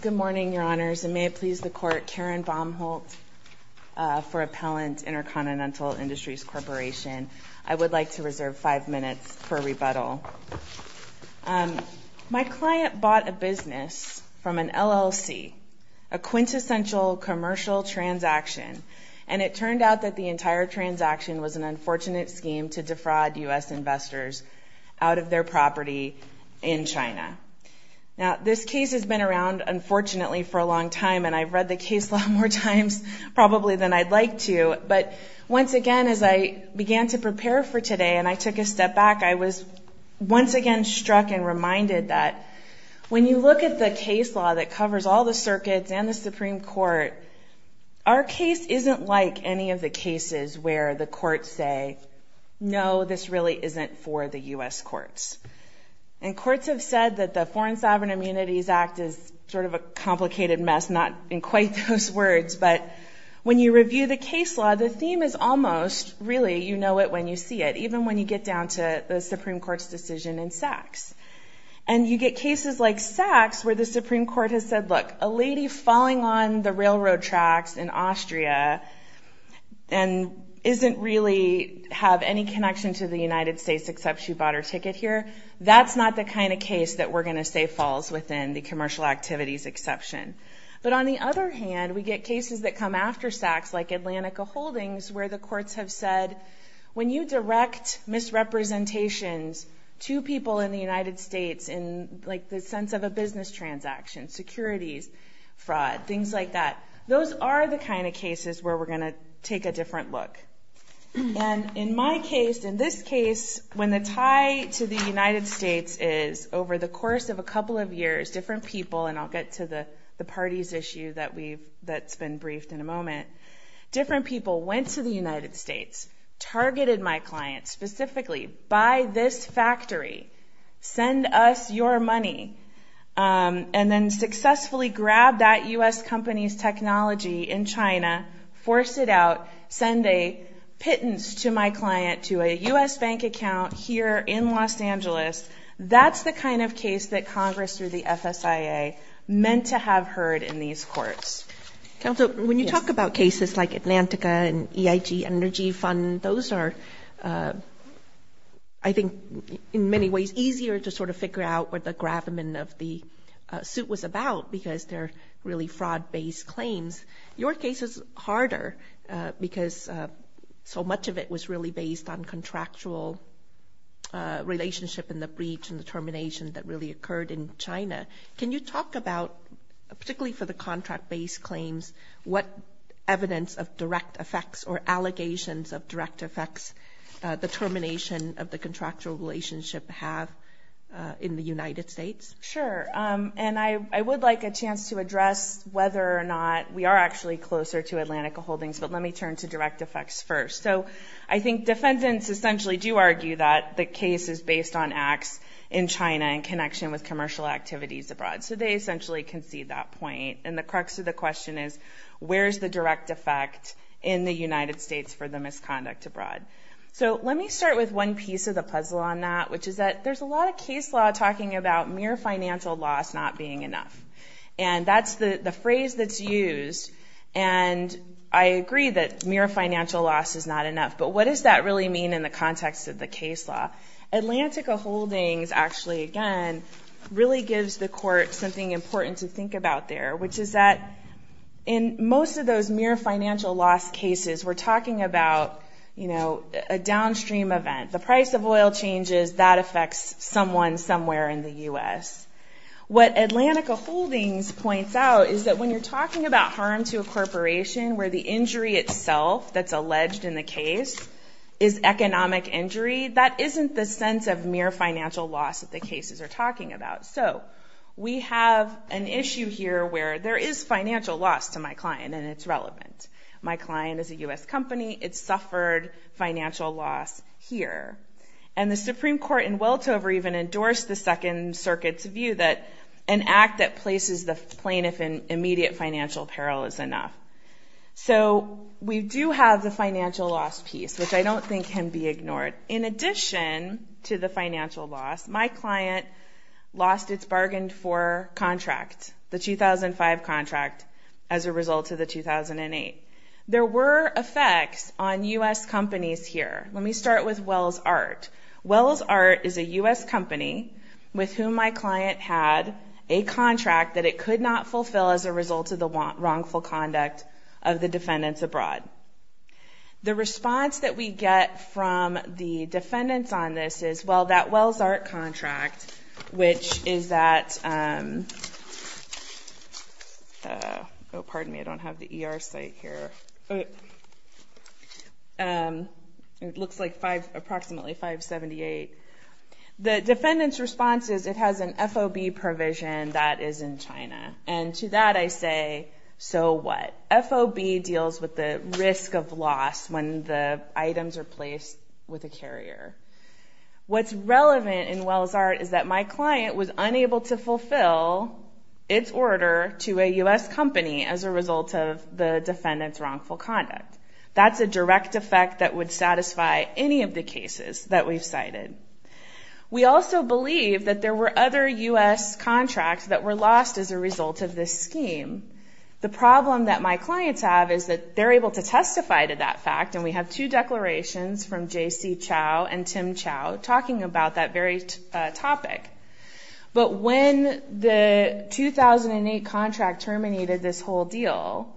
Good morning, Your Honors, and may it please the Court, Karen Baumholt for Appellant Intercontinental Industries Corporation. I would like to reserve five minutes for rebuttal. My client bought a business from an LLC, a quintessential commercial transaction, and it turned out that the entire transaction was an unfortunate scheme to defraud U.S. investors out of their property in China. Now, this case has been around, unfortunately, for a long time, and I've read the case law more times probably than I'd like to, but once again, as I began to prepare for today and I took a step back, I was once again struck and reminded that when you look at the case law that covers all the circuits and the Supreme Court, our case isn't like any of the cases where the courts say, no, this really isn't for the U.S. courts. And courts have said that the Foreign Sovereign Immunities Act is sort of a complicated mess, not in quite those words, but when you review the case law, the theme is almost really you know it when you see it, even when you get down to the Supreme Court's decision in Sachs. And you get cases like Sachs where the Supreme Court has said, look, a lady falling on the railroad tracks in Austria and isn't really have any connection to the United States except she bought her ticket here, that's not the kind of case that we're going to say falls within the commercial activities exception. But on the other hand, we get cases that come after Sachs like Atlantica Holdings where the courts have said, when you direct misrepresentations to people in the United States in like the sense of a business transaction, securities, fraud, things like that, those are the kind of cases where we're going to take a different look. And in my case, in this case, when the tie to the United States is over the course of a couple of years, different people, and I'll get to the parties issue that's been briefed in a moment, different people went to the United States, targeted my client specifically, buy this factory, send us your money, and then successfully grab that U.S. company's technology in China, force it out, send a pittance to my client to a U.S. bank account here in Los Angeles, that's the kind of case that Congress through the FSIA meant to have heard in these courts. Counsel, when you talk about cases like Atlantica and EIG Energy Fund, and those are I think in many ways easier to sort of figure out what the gravamen of the suit was about because they're really fraud-based claims. Your case is harder because so much of it was really based on contractual relationship and the breach and the termination that really occurred in China. Can you talk about, particularly for the contract-based claims, what evidence of direct effects or allegations of direct effects the termination of the contractual relationship have in the United States? Sure. And I would like a chance to address whether or not we are actually closer to Atlantica Holdings, but let me turn to direct effects first. So I think defendants essentially do argue that the case is based on acts in China in connection with commercial activities abroad. So they essentially concede that point. And the crux of the question is, where's the direct effect in the United States for the misconduct abroad? So let me start with one piece of the puzzle on that, which is that there's a lot of case law talking about mere financial loss not being enough. And that's the phrase that's used, and I agree that mere financial loss is not enough, but what does that really mean in the context of the case law? Atlantica Holdings actually, again, really gives the court something important to think about there, which is that in most of those mere financial loss cases, we're talking about a downstream event. The price of oil changes, that affects someone somewhere in the U.S. What Atlantica Holdings points out is that when you're talking about harm to a corporation where the injury itself that's alleged in the case is economic injury, that isn't the sense of mere financial loss that the cases are talking about. So we have an issue here where there is financial loss to my client, and it's relevant. My client is a U.S. company. It suffered financial loss here. And the Supreme Court in Weltover even endorsed the Second Circuit's view that an act that places the plaintiff in immediate financial peril is enough. So we do have the financial loss piece, which I don't think can be ignored. In addition to the financial loss, my client lost its bargain for contract, the 2005 contract, as a result of the 2008. There were effects on U.S. companies here. Let me start with Wells Art. Wells Art is a U.S. company with whom my client had a contract that it could not fulfill as well as a result of the wrongful conduct of the defendants abroad. The response that we get from the defendants on this is, well, that Wells Art contract, which is that – oh, pardon me. I don't have the ER site here. It looks like approximately 578. The defendant's response is it has an FOB provision that is in China. And to that I say, so what? FOB deals with the risk of loss when the items are placed with a carrier. What's relevant in Wells Art is that my client was unable to fulfill its order to a U.S. company as a result of the defendant's wrongful conduct. That's a direct effect that would satisfy any of the cases that we've cited. We also believe that there were other U.S. contracts that were lost as a result of this scheme. The problem that my clients have is that they're able to testify to that fact, and we have two declarations from J.C. Chau and Tim Chau talking about that very topic. But when the 2008 contract terminated this whole deal,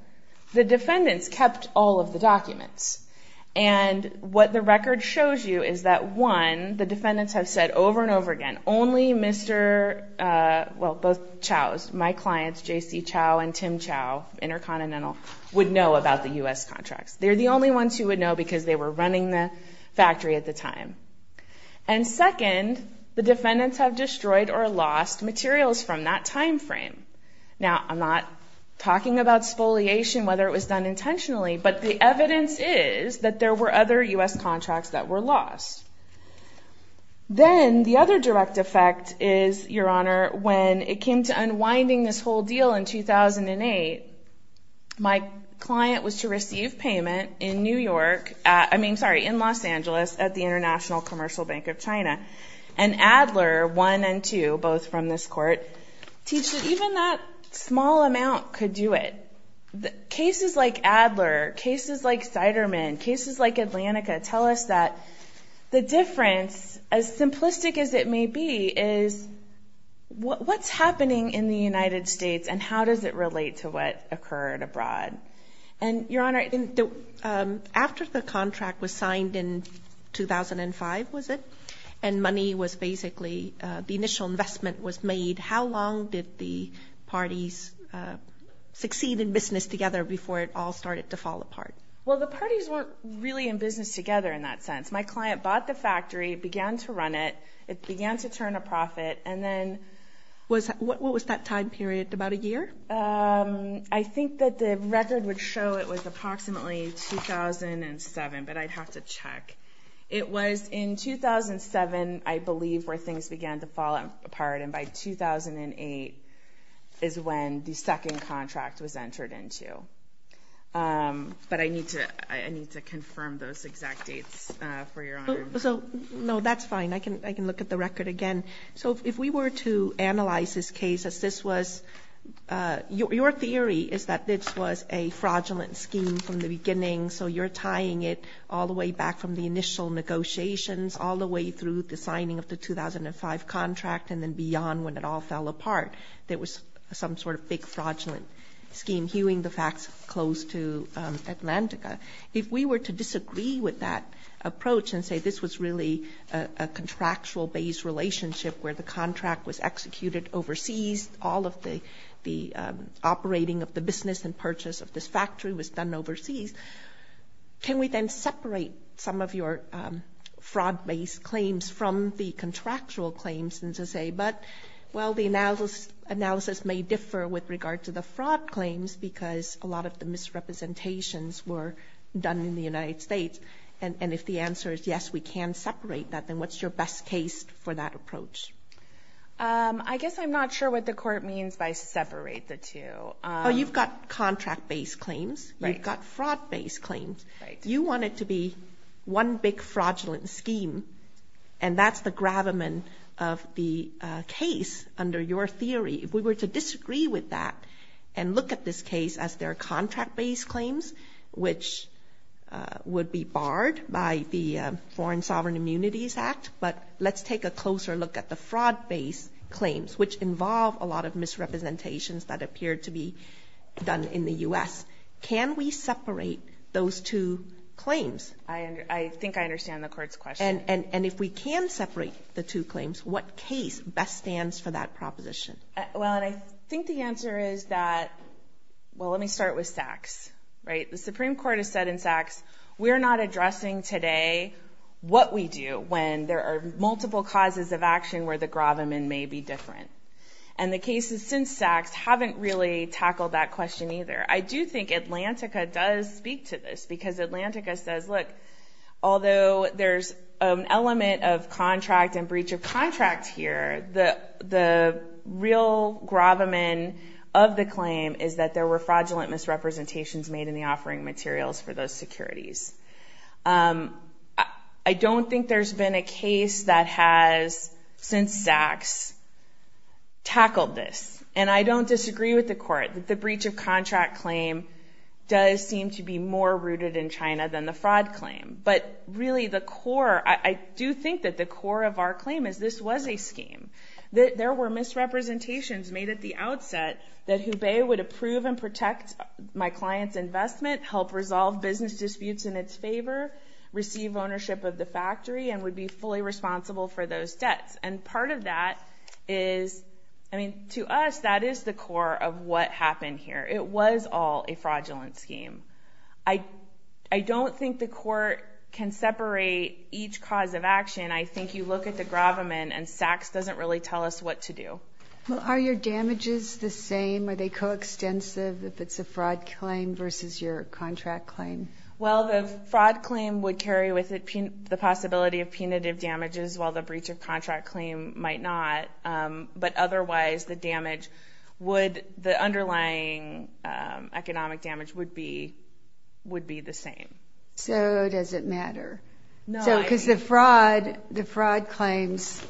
the defendants kept all of the documents. And what the record shows you is that, one, the defendants have said over and over again, only Mr. – well, both Chaus, my clients, J.C. Chau and Tim Chau, Intercontinental, would know about the U.S. contracts. They're the only ones who would know because they were running the factory at the time. And second, the defendants have destroyed or lost materials from that timeframe. Now, I'm not talking about spoliation, whether it was done intentionally, but the evidence is that there were other U.S. contracts that were lost. Then the other direct effect is, Your Honor, when it came to unwinding this whole deal in 2008, my client was to receive payment in Los Angeles at the International Commercial Bank of China, and Adler, one and two, both from this court, teach that even that small amount could do it. Cases like Adler, cases like Siderman, cases like Atlantica tell us that the difference, as simplistic as it may be, is what's happening in the United States and how does it relate to what occurred abroad. And, Your Honor, after the contract was signed in 2005, was it, and money was basically – did the parties succeed in business together before it all started to fall apart? Well, the parties weren't really in business together in that sense. My client bought the factory, began to run it, it began to turn a profit, and then – What was that time period, about a year? I think that the record would show it was approximately 2007, but I'd have to check. It was in 2007, I believe, where things began to fall apart, and by 2008 is when the second contract was entered into. But I need to confirm those exact dates for Your Honor. No, that's fine. I can look at the record again. So if we were to analyze this case as this was – your theory is that this was a fraudulent scheme from the beginning, so you're tying it all the way back from the initial negotiations, all the way through the signing of the 2005 contract, and then beyond when it all fell apart. There was some sort of big fraudulent scheme hewing the facts close to Atlantica. If we were to disagree with that approach and say this was really a contractual-based relationship where the contract was executed overseas, all of the operating of the business and purchase of this factory was done overseas, can we then separate some of your fraud-based claims from the contractual claims? And to say, well, the analysis may differ with regard to the fraud claims because a lot of the misrepresentations were done in the United States. And if the answer is yes, we can separate that, then what's your best case for that approach? I guess I'm not sure what the court means by separate the two. Oh, you've got contract-based claims. Right. You've got fraud-based claims. Right. You want it to be one big fraudulent scheme, and that's the gravamen of the case under your theory. If we were to disagree with that and look at this case as they're contract-based claims, which would be barred by the Foreign Sovereign Immunities Act, but let's take a closer look at the fraud-based claims, which involve a lot of misrepresentations that appear to be done in the U.S., can we separate those two claims? I think I understand the court's question. And if we can separate the two claims, what case best stands for that proposition? Well, and I think the answer is that, well, let me start with SACS. The Supreme Court has said in SACS, we're not addressing today what we do when there are multiple causes of action where the gravamen may be different. And the cases since SACS haven't really tackled that question either. I do think Atlantica does speak to this because Atlantica says, look, although there's an element of contract and breach of contract here, the real gravamen of the claim is that there were fraudulent misrepresentations made in the offering materials for those securities. I don't think there's been a case that has, since SACS, tackled this. And I don't disagree with the court. The breach of contract claim does seem to be more rooted in China than the fraud claim. But really the core, I do think that the core of our claim is this was a scheme. There were misrepresentations made at the outset that Hubei would approve and protect my client's investment, help resolve business disputes in its favor, receive ownership of the factory, and would be fully responsible for those debts. And part of that is, I mean, to us that is the core of what happened here. It was all a fraudulent scheme. I don't think the court can separate each cause of action. I think you look at the gravamen and SACS doesn't really tell us what to do. Well, are your damages the same? Are they coextensive if it's a fraud claim versus your contract claim? Well, the fraud claim would carry with it the possibility of punitive damages, while the breach of contract claim might not. But otherwise the damage would, the underlying economic damage would be the same. So does it matter? Because the fraud claims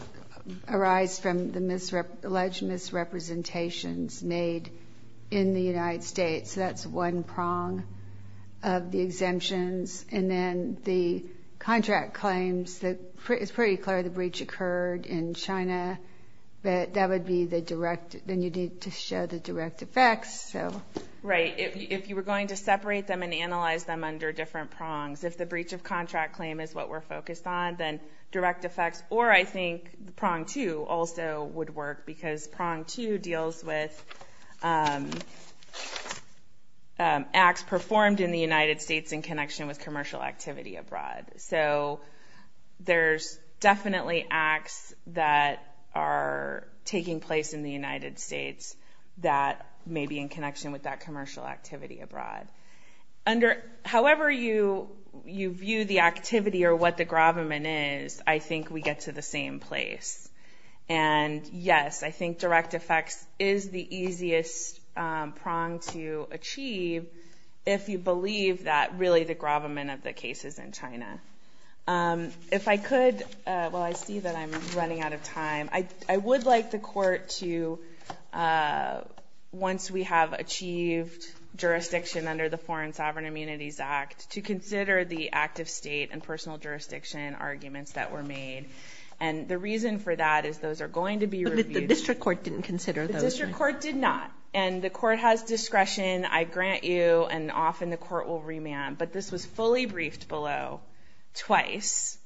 arise from the alleged misrepresentations made in the United States. So that's one prong of the exemptions. And then the contract claims, it's pretty clear the breach occurred in China, but that would be the direct, then you need to show the direct effects. Right. If you were going to separate them and analyze them under different prongs, if the breach of contract claim is what we're focused on, then direct effects. Or I think the prong two also would work because prong two deals with acts performed in the United States in connection with commercial activity abroad. So there's definitely acts that are taking place in the United States that may be in connection with that commercial activity abroad. However you view the activity or what the gravamen is, I think we get to the same place. And yes, I think direct effects is the easiest prong to achieve if you believe that really the gravamen of the case is in China. If I could, well, I see that I'm running out of time. I would like the court to, once we have achieved jurisdiction under the Foreign Sovereign Immunities Act, to consider the active state and personal jurisdiction arguments that were made. And the reason for that is those are going to be reviewed. But the district court didn't consider those. The district court did not. And the court has discretion, I grant you, and often the court will remand. But this was fully briefed below twice.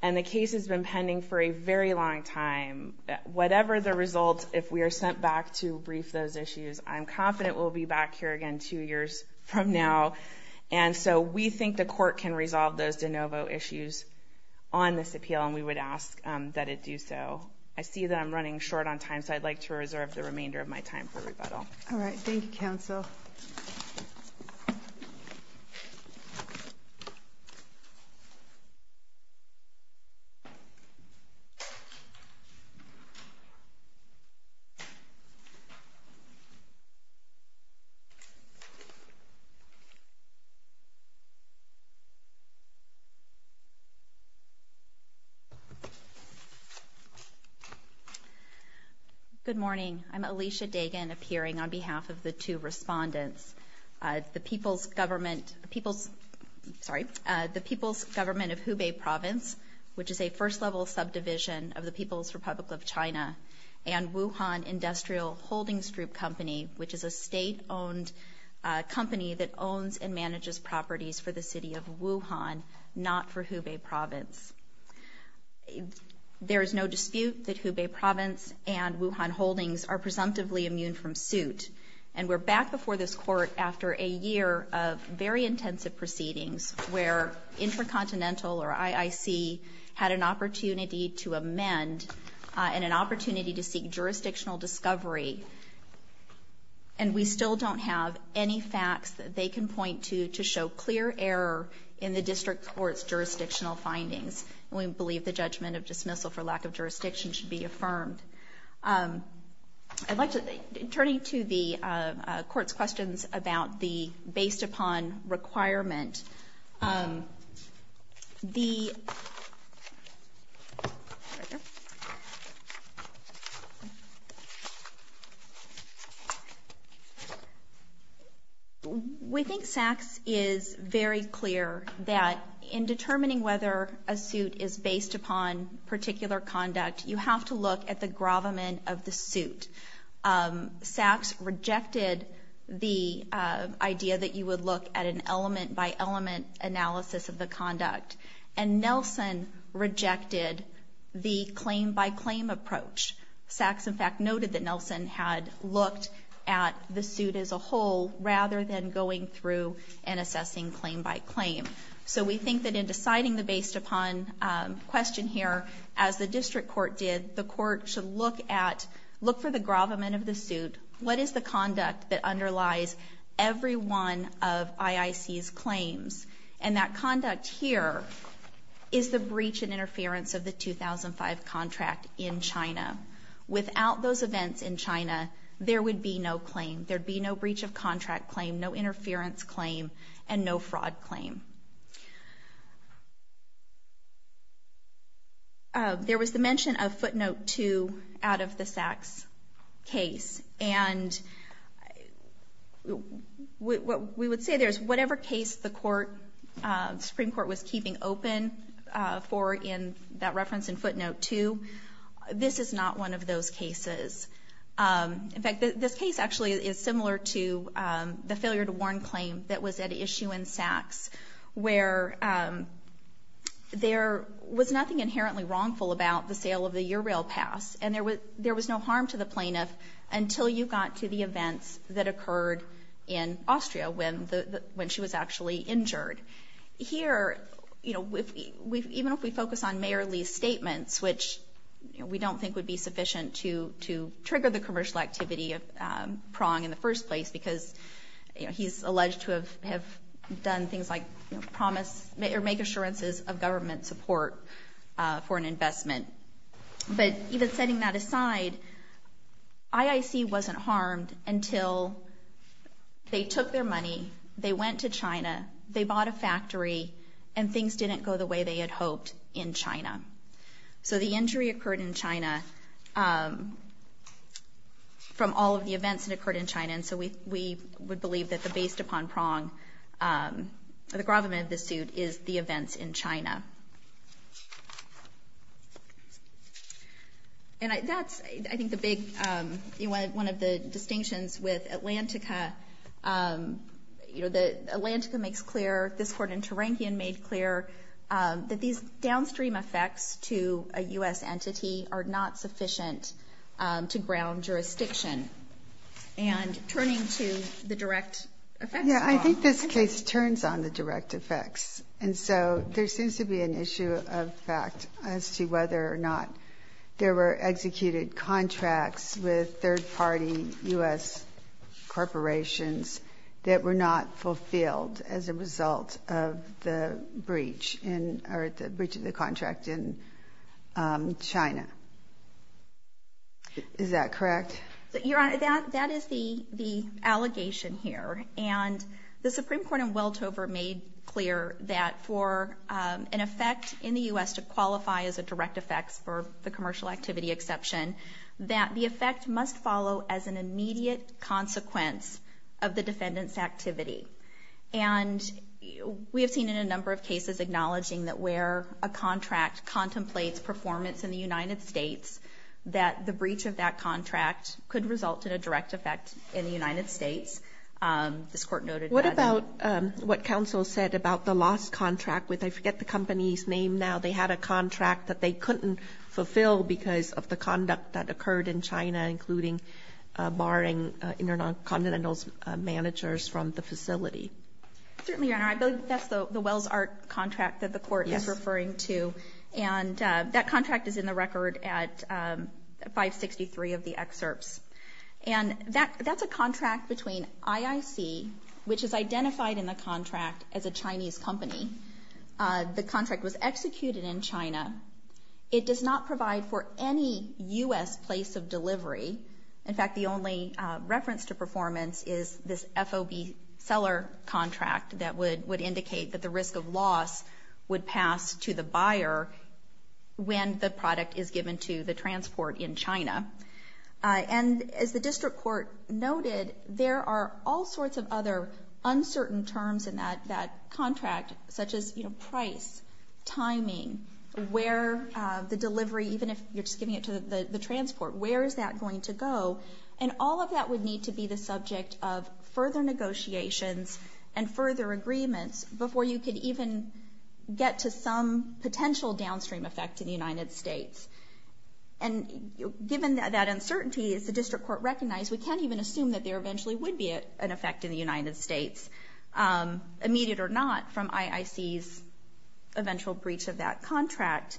And the case has been pending for a very long time. Whatever the result, if we are sent back to brief those issues, I'm confident we'll be back here again two years from now. And so we think the court can resolve those de novo issues on this appeal, and we would ask that it do so. I see that I'm running short on time, so I'd like to reserve the remainder of my time for rebuttal. All right. Thank you, counsel. Good morning. I'm Alicia Dagan, appearing on behalf of the two respondents. The People's Government of Hubei Province, which is a first-level subdivision of the People's Republic of China, and Wuhan Industrial Holdings Group Company, which is a state-owned company that owns and manages properties for the city of Wuhan, not for Hubei Province. There is no dispute that Hubei Province and Wuhan Holdings are presumptively immune from suit. And we're back before this court after a year of very intensive proceedings where Intracontinental, or IIC, had an opportunity to amend and an opportunity to seek jurisdictional discovery, and we still don't have any facts that they can point to to show clear error in the district court's jurisdictional findings. And we believe the judgment of dismissal for lack of jurisdiction should be affirmed. I'd like to turn to the court's questions about the based-upon requirement. The... We think Sachs is very clear that in determining whether a suit is based upon particular conduct, you have to look at the gravamen of the suit. Sachs rejected the idea that you would look at an element-by-element analysis of the conduct, and Nelson rejected the claim-by-claim approach. Sachs, in fact, noted that Nelson had looked at the suit as a whole rather than going through and assessing claim-by-claim. So we think that in deciding the based-upon question here, as the district court did, the court should look for the gravamen of the suit. What is the conduct that underlies every one of IIC's claims? And that conduct here is the breach and interference of the 2005 contract in China. Without those events in China, there would be no claim. There'd be no breach of contract claim, no interference claim, and no fraud claim. There was the mention of footnote 2 out of the Sachs case, and what we would say there is whatever case the Supreme Court was keeping open for that reference in footnote 2, this is not one of those cases. In fact, this case actually is similar to the failure to warn claim that was at issue in Sachs, where there was nothing inherently wrongful about the sale of the Ural Pass, and there was no harm to the plaintiff until you got to the events that occurred in Austria when she was actually injured. Here, even if we focus on Mayor Lee's statements, which we don't think would be sufficient to trigger the commercial activity of Prong in the first place because he's alleged to have done things like make assurances of government support for an investment. But even setting that aside, IIC wasn't harmed until they took their money, they went to China, they bought a factory, and things didn't go the way they had hoped in China. So the injury occurred in China from all of the events that occurred in China, and so we would believe that based upon Prong, the gravamen of this suit is the events in China. And that's, I think, one of the big distinctions with Atlantica. Atlantica makes clear, this Court in Terranquean made clear, that these downstream effects to a U.S. entity are not sufficient to ground jurisdiction. And turning to the direct effects. Yeah, I think this case turns on the direct effects. And so there seems to be an issue of fact as to whether or not there were executed contracts with third-party U.S. corporations that were not fulfilled as a result of the breach, or the breach of the contract in China. Is that correct? Your Honor, that is the allegation here. And the Supreme Court in Weltover made clear that for an effect in the U.S. to qualify as a direct effect for the commercial activity exception, that the effect must follow as an immediate consequence of the defendant's activity. And we have seen in a number of cases acknowledging that where a contract contemplates performance in the United States, that the breach of that contract could result in a direct effect in the United States. This Court noted that. What about what counsel said about the last contract? I forget the company's name now. They had a contract that they couldn't fulfill because of the conduct that occurred in China, including barring intercontinental managers from the facility. Certainly, Your Honor. I believe that's the Wells Art contract that the Court is referring to. And that contract is in the record at 563 of the excerpts. And that's a contract between IIC, which is identified in the contract as a Chinese company. The contract was executed in China. It does not provide for any U.S. place of delivery. In fact, the only reference to performance is this FOB seller contract that would indicate that the risk of loss would pass to the buyer when the product is given to the transport in China. And as the District Court noted, there are all sorts of other uncertain terms in that contract, such as price, timing, where the delivery, even if you're just giving it to the transport, where is that going to go? And all of that would need to be the subject of further negotiations and further agreements before you could even get to some potential downstream effect in the United States. And given that uncertainty, as the District Court recognized, we can't even assume that there eventually would be an effect in the United States, immediate or not, from IIC's eventual breach of that contract.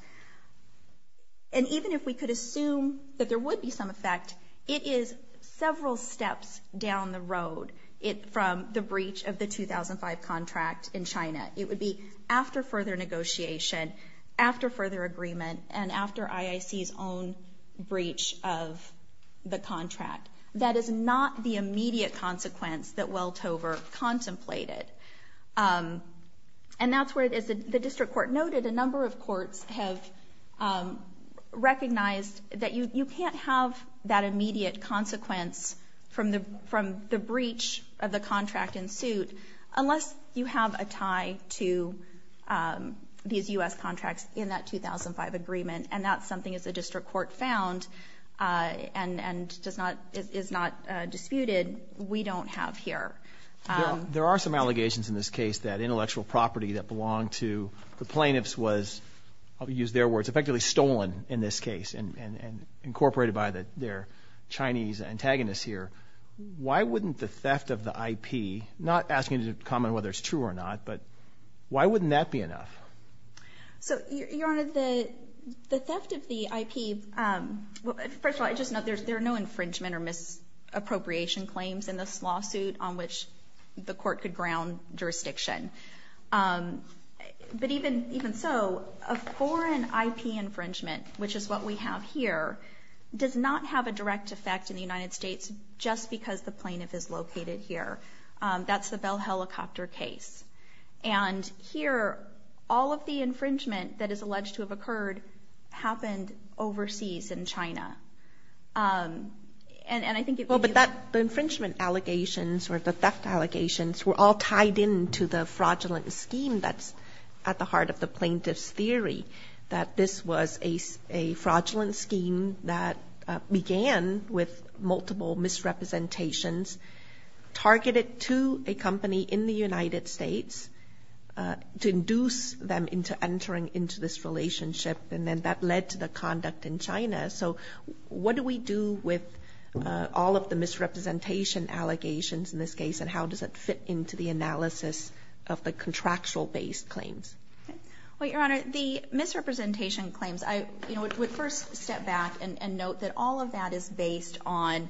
And even if we could assume that there would be some effect, it is several steps down the road from the breach of the 2005 contract in China. It would be after further negotiation, after further agreement, and after IIC's own breach of the contract. That is not the immediate consequence that Weltover contemplated. And that's where, as the District Court noted, a number of courts have recognized that you can't have that immediate consequence from the breach of the contract in suit unless you have a tie to these U.S. contracts in that 2005 agreement. And that's something, as the District Court found and is not disputed, we don't have here. There are some allegations in this case that intellectual property that belonged to the plaintiffs was, I'll use their words, effectively stolen in this case and incorporated by their Chinese antagonists here. Why wouldn't the theft of the IP, not asking you to comment whether it's true or not, but why wouldn't that be enough? So, Your Honor, the theft of the IP, first of all, I just note there are no infringement or misappropriation claims in this lawsuit on which the court could ground jurisdiction. But even so, a foreign IP infringement, which is what we have here, does not have a direct effect in the United States just because the plaintiff is located here. That's the Bell Helicopter case. And here, all of the infringement that is alleged to have occurred happened overseas in China. And I think it could be that the infringement allegations or the theft allegations were all tied in to the fraudulent scheme that's at the heart of the plaintiff's theory, that this was a fraudulent scheme that began with multiple misrepresentations targeted to a company in the United States to induce them into entering into this relationship. And then that led to the conduct in China. So what do we do with all of the misrepresentation allegations in this case and how does it fit into the analysis of the contractual-based claims? Well, Your Honor, the misrepresentation claims, I would first step back and note that all of that is based on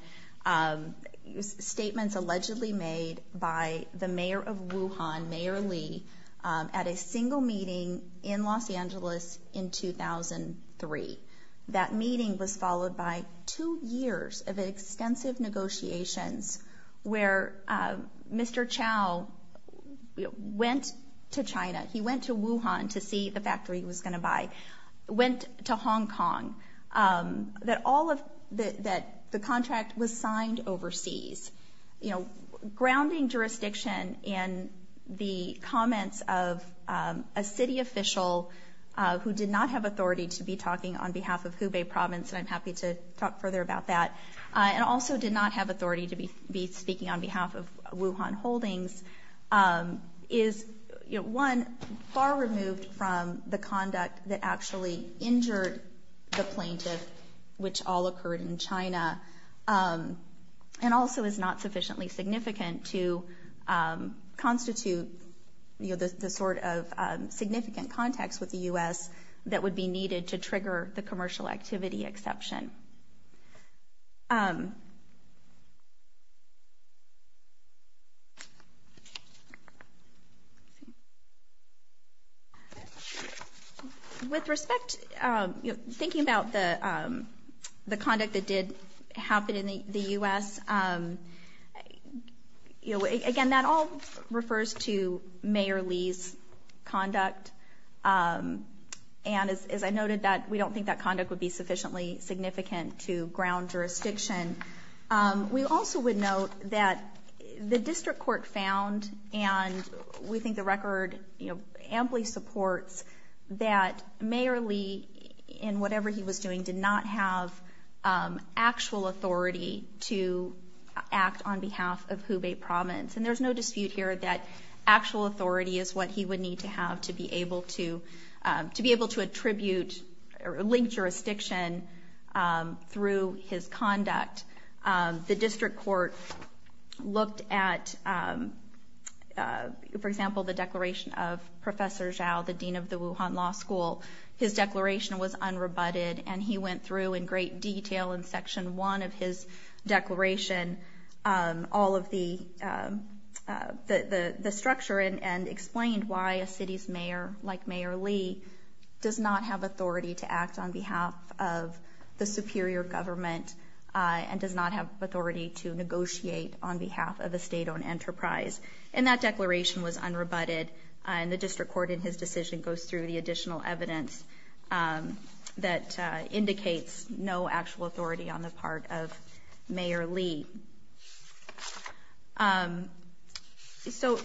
statements allegedly made by the mayor of Wuhan, Mayor Lee, at a single meeting in Los Angeles in 2003. That meeting was followed by two years of extensive negotiations where Mr. Chow went to China. He went to Wuhan to see the factory he was going to buy. Went to Hong Kong. That all of the contract was signed overseas. You know, grounding jurisdiction in the comments of a city official who did not have authority to be talking on behalf of Hubei province, and I'm happy to talk further about that, and also did not have authority to be speaking on behalf of Wuhan Holdings, is, you know, one, far removed from the conduct that actually injured the plaintiff, which all occurred in China, and also is not sufficiently significant to constitute, you know, the sort of significant context with the U.S. that would be needed to trigger the commercial activity exception. With respect, you know, thinking about the conduct that did happen in the U.S., you know, again, that all refers to Mayor Lee's conduct, and as I noted that we don't think that conduct would be sufficiently significant to ground jurisdiction. We also would note that the district court found, and we think the record, you know, And there's no dispute here that actual authority is what he would need to have to be able to attribute or link jurisdiction through his conduct. The district court looked at, for example, the declaration of Professor Zhao, the dean of the Wuhan Law School. His declaration was unrebutted, and he went through in great detail in Section 1 of his declaration all of the structure and explained why a city's mayor, like Mayor Lee, does not have authority to act on behalf of the superior government and does not have authority to negotiate on behalf of a state-owned enterprise. And that declaration was unrebutted, and the district court in his decision goes through the additional evidence that indicates no actual authority on the part of Mayor Lee. So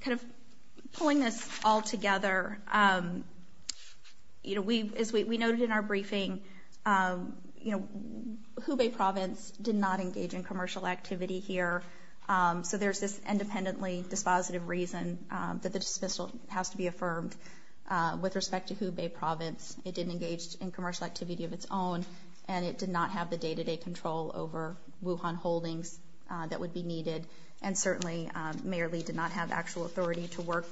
kind of pulling this all together, you know, as we noted in our briefing, you know, Hubei province did not engage in commercial activity here, so there's this independently dispositive reason that the dismissal has to be affirmed. With respect to Hubei province, it didn't engage in commercial activity of its own, and it did not have the day-to-day control over Wuhan Holdings that would be needed, and certainly Mayor Lee did not have actual authority to work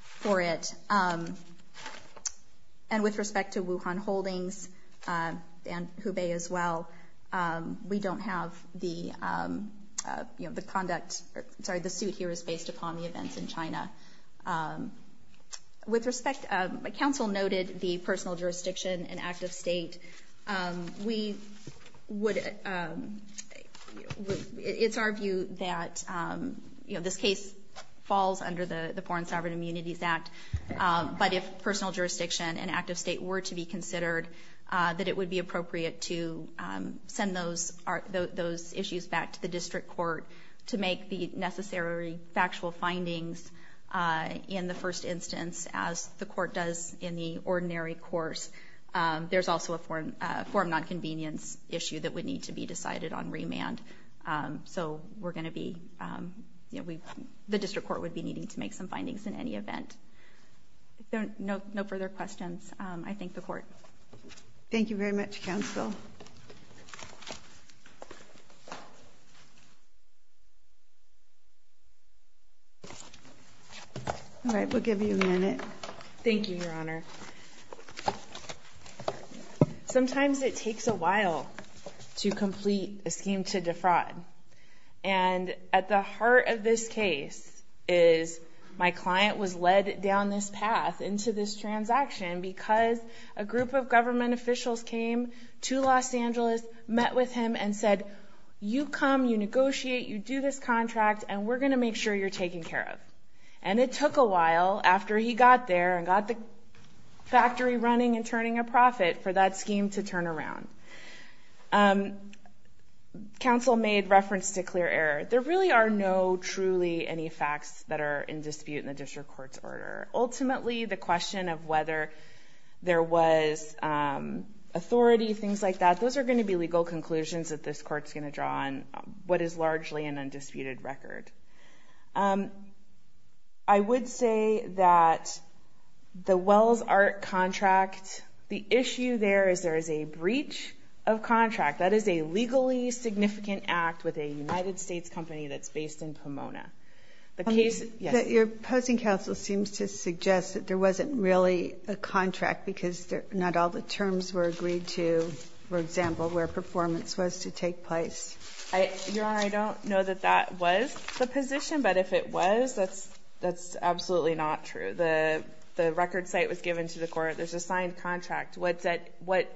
for it. And with respect to Wuhan Holdings and Hubei as well, we don't have the conduct, sorry, the suit here is based upon the events in China. With respect, council noted the personal jurisdiction and active state. We would, it's our view that, you know, this case falls under the Foreign Sovereign Immunities Act, but if personal jurisdiction and active state were to be considered, that it would be appropriate to send those issues back to the district court to make the necessary factual findings in the first instance, as the court does in the ordinary course. There's also a form nonconvenience issue that would need to be decided on remand. So we're going to be, you know, the district court would be needing to make some findings in any event. If there are no further questions, I thank the court. Thank you very much, council. All right, we'll give you a minute. Thank you, Your Honor. Sometimes it takes a while to complete a scheme to defraud. And at the heart of this case is, my client was led down this path into this transaction because a group of government officials came to Los Angeles, met with him and said, you come, you negotiate, you do this contract, and we're going to make sure you're taken care of. And it took a while after he got there and got the factory running and turning a profit for that scheme to turn around. Council made reference to clear error. There really are no truly any facts that are in dispute in the district court's order. Ultimately, the question of whether there was authority, things like that, those are going to be legal conclusions that this court's going to draw on, what is largely an undisputed record. I would say that the Wells Art contract, the issue there is there is a breach of contract. That is a legally significant act with a United States company that's based in Pomona. The case, yes. Your opposing counsel seems to suggest that there wasn't really a contract because not all the terms were agreed to, for example, where performance was to take place. Your Honor, I don't know that that was the position, but if it was, that's absolutely not true. The record site was given to the court. There's a signed contract. What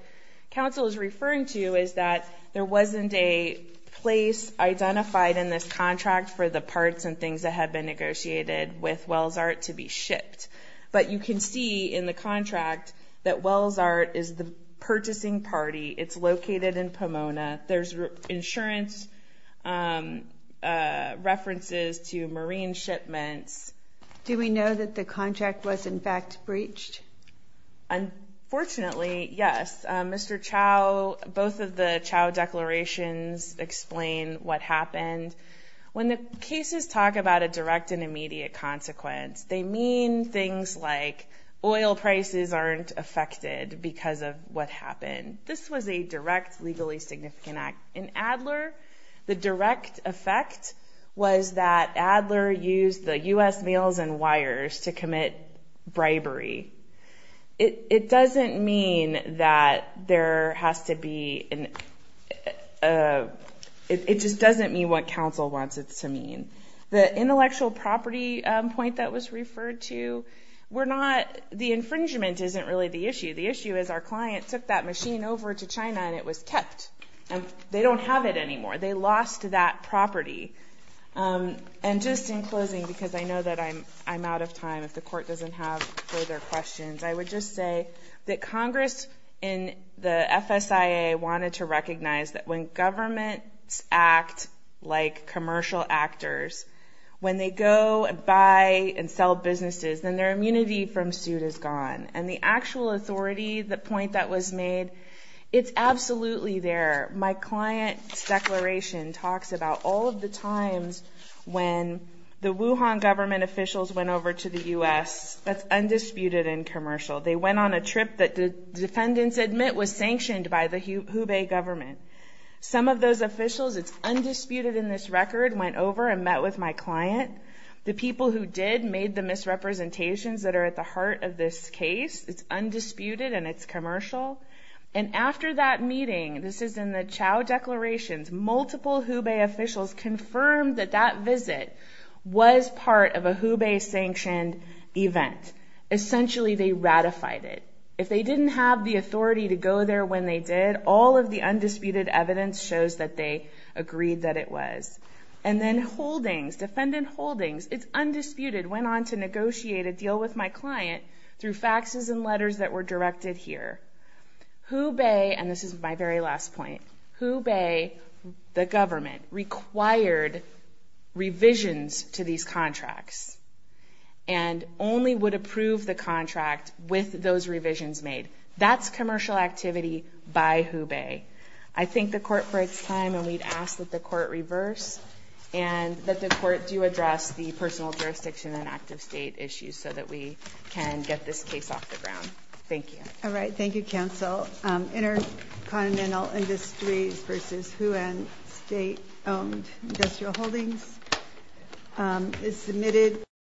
counsel is referring to is that there wasn't a place identified in this contract for the parts and things that had been negotiated with Wells Art to be shipped. But you can see in the contract that Wells Art is the purchasing party. It's located in Pomona. There's insurance references to marine shipments. Do we know that the contract was, in fact, breached? Unfortunately, yes. Mr. Chau, both of the Chau declarations explain what happened. When the cases talk about a direct and immediate consequence, they mean things like oil prices aren't affected because of what happened. This was a direct legally significant act. In Adler, the direct effect was that Adler used the U.S. Meals and Wires to commit bribery. It doesn't mean that there has to be an ‑‑ it just doesn't mean what counsel wants it to mean. The intellectual property point that was referred to, the infringement isn't really the issue. The issue is our client took that machine over to China and it was kept. They don't have it anymore. They lost that property. And just in closing, because I know that I'm out of time, if the court doesn't have further questions, I would just say that Congress in the FSIA wanted to recognize that when governments act like commercial actors, when they go and buy and sell businesses, then their immunity from suit is gone. And the actual authority, the point that was made, it's absolutely there. My client's declaration talks about all of the times when the Wuhan government officials went over to the U.S. that's undisputed and commercial. They went on a trip that the defendants admit was sanctioned by the Hubei government. Some of those officials, it's undisputed in this record, went over and met with my client. The people who did made the misrepresentations that are at the heart of this case. It's undisputed and it's commercial. And after that meeting, this is in the Chao declarations, multiple Hubei officials confirmed that that visit was part of a Hubei-sanctioned event. Essentially, they ratified it. If they didn't have the authority to go there when they did, all of the undisputed evidence shows that they agreed that it was. And then holdings, defendant holdings, it's undisputed, went on to negotiate a deal with my client through faxes and letters that were directed here. Hubei, and this is my very last point, Hubei, the government, required revisions to these contracts and only would approve the contract with those revisions made. That's commercial activity by Hubei. I thank the court for its time, and we'd ask that the court reverse and that the court do address the personal jurisdiction and active state issues so that we can get this case off the ground. Thank you. All right. Thank you, counsel. Intercontinental Industries v. Huen State-Owned Industrial Holdings is submitted.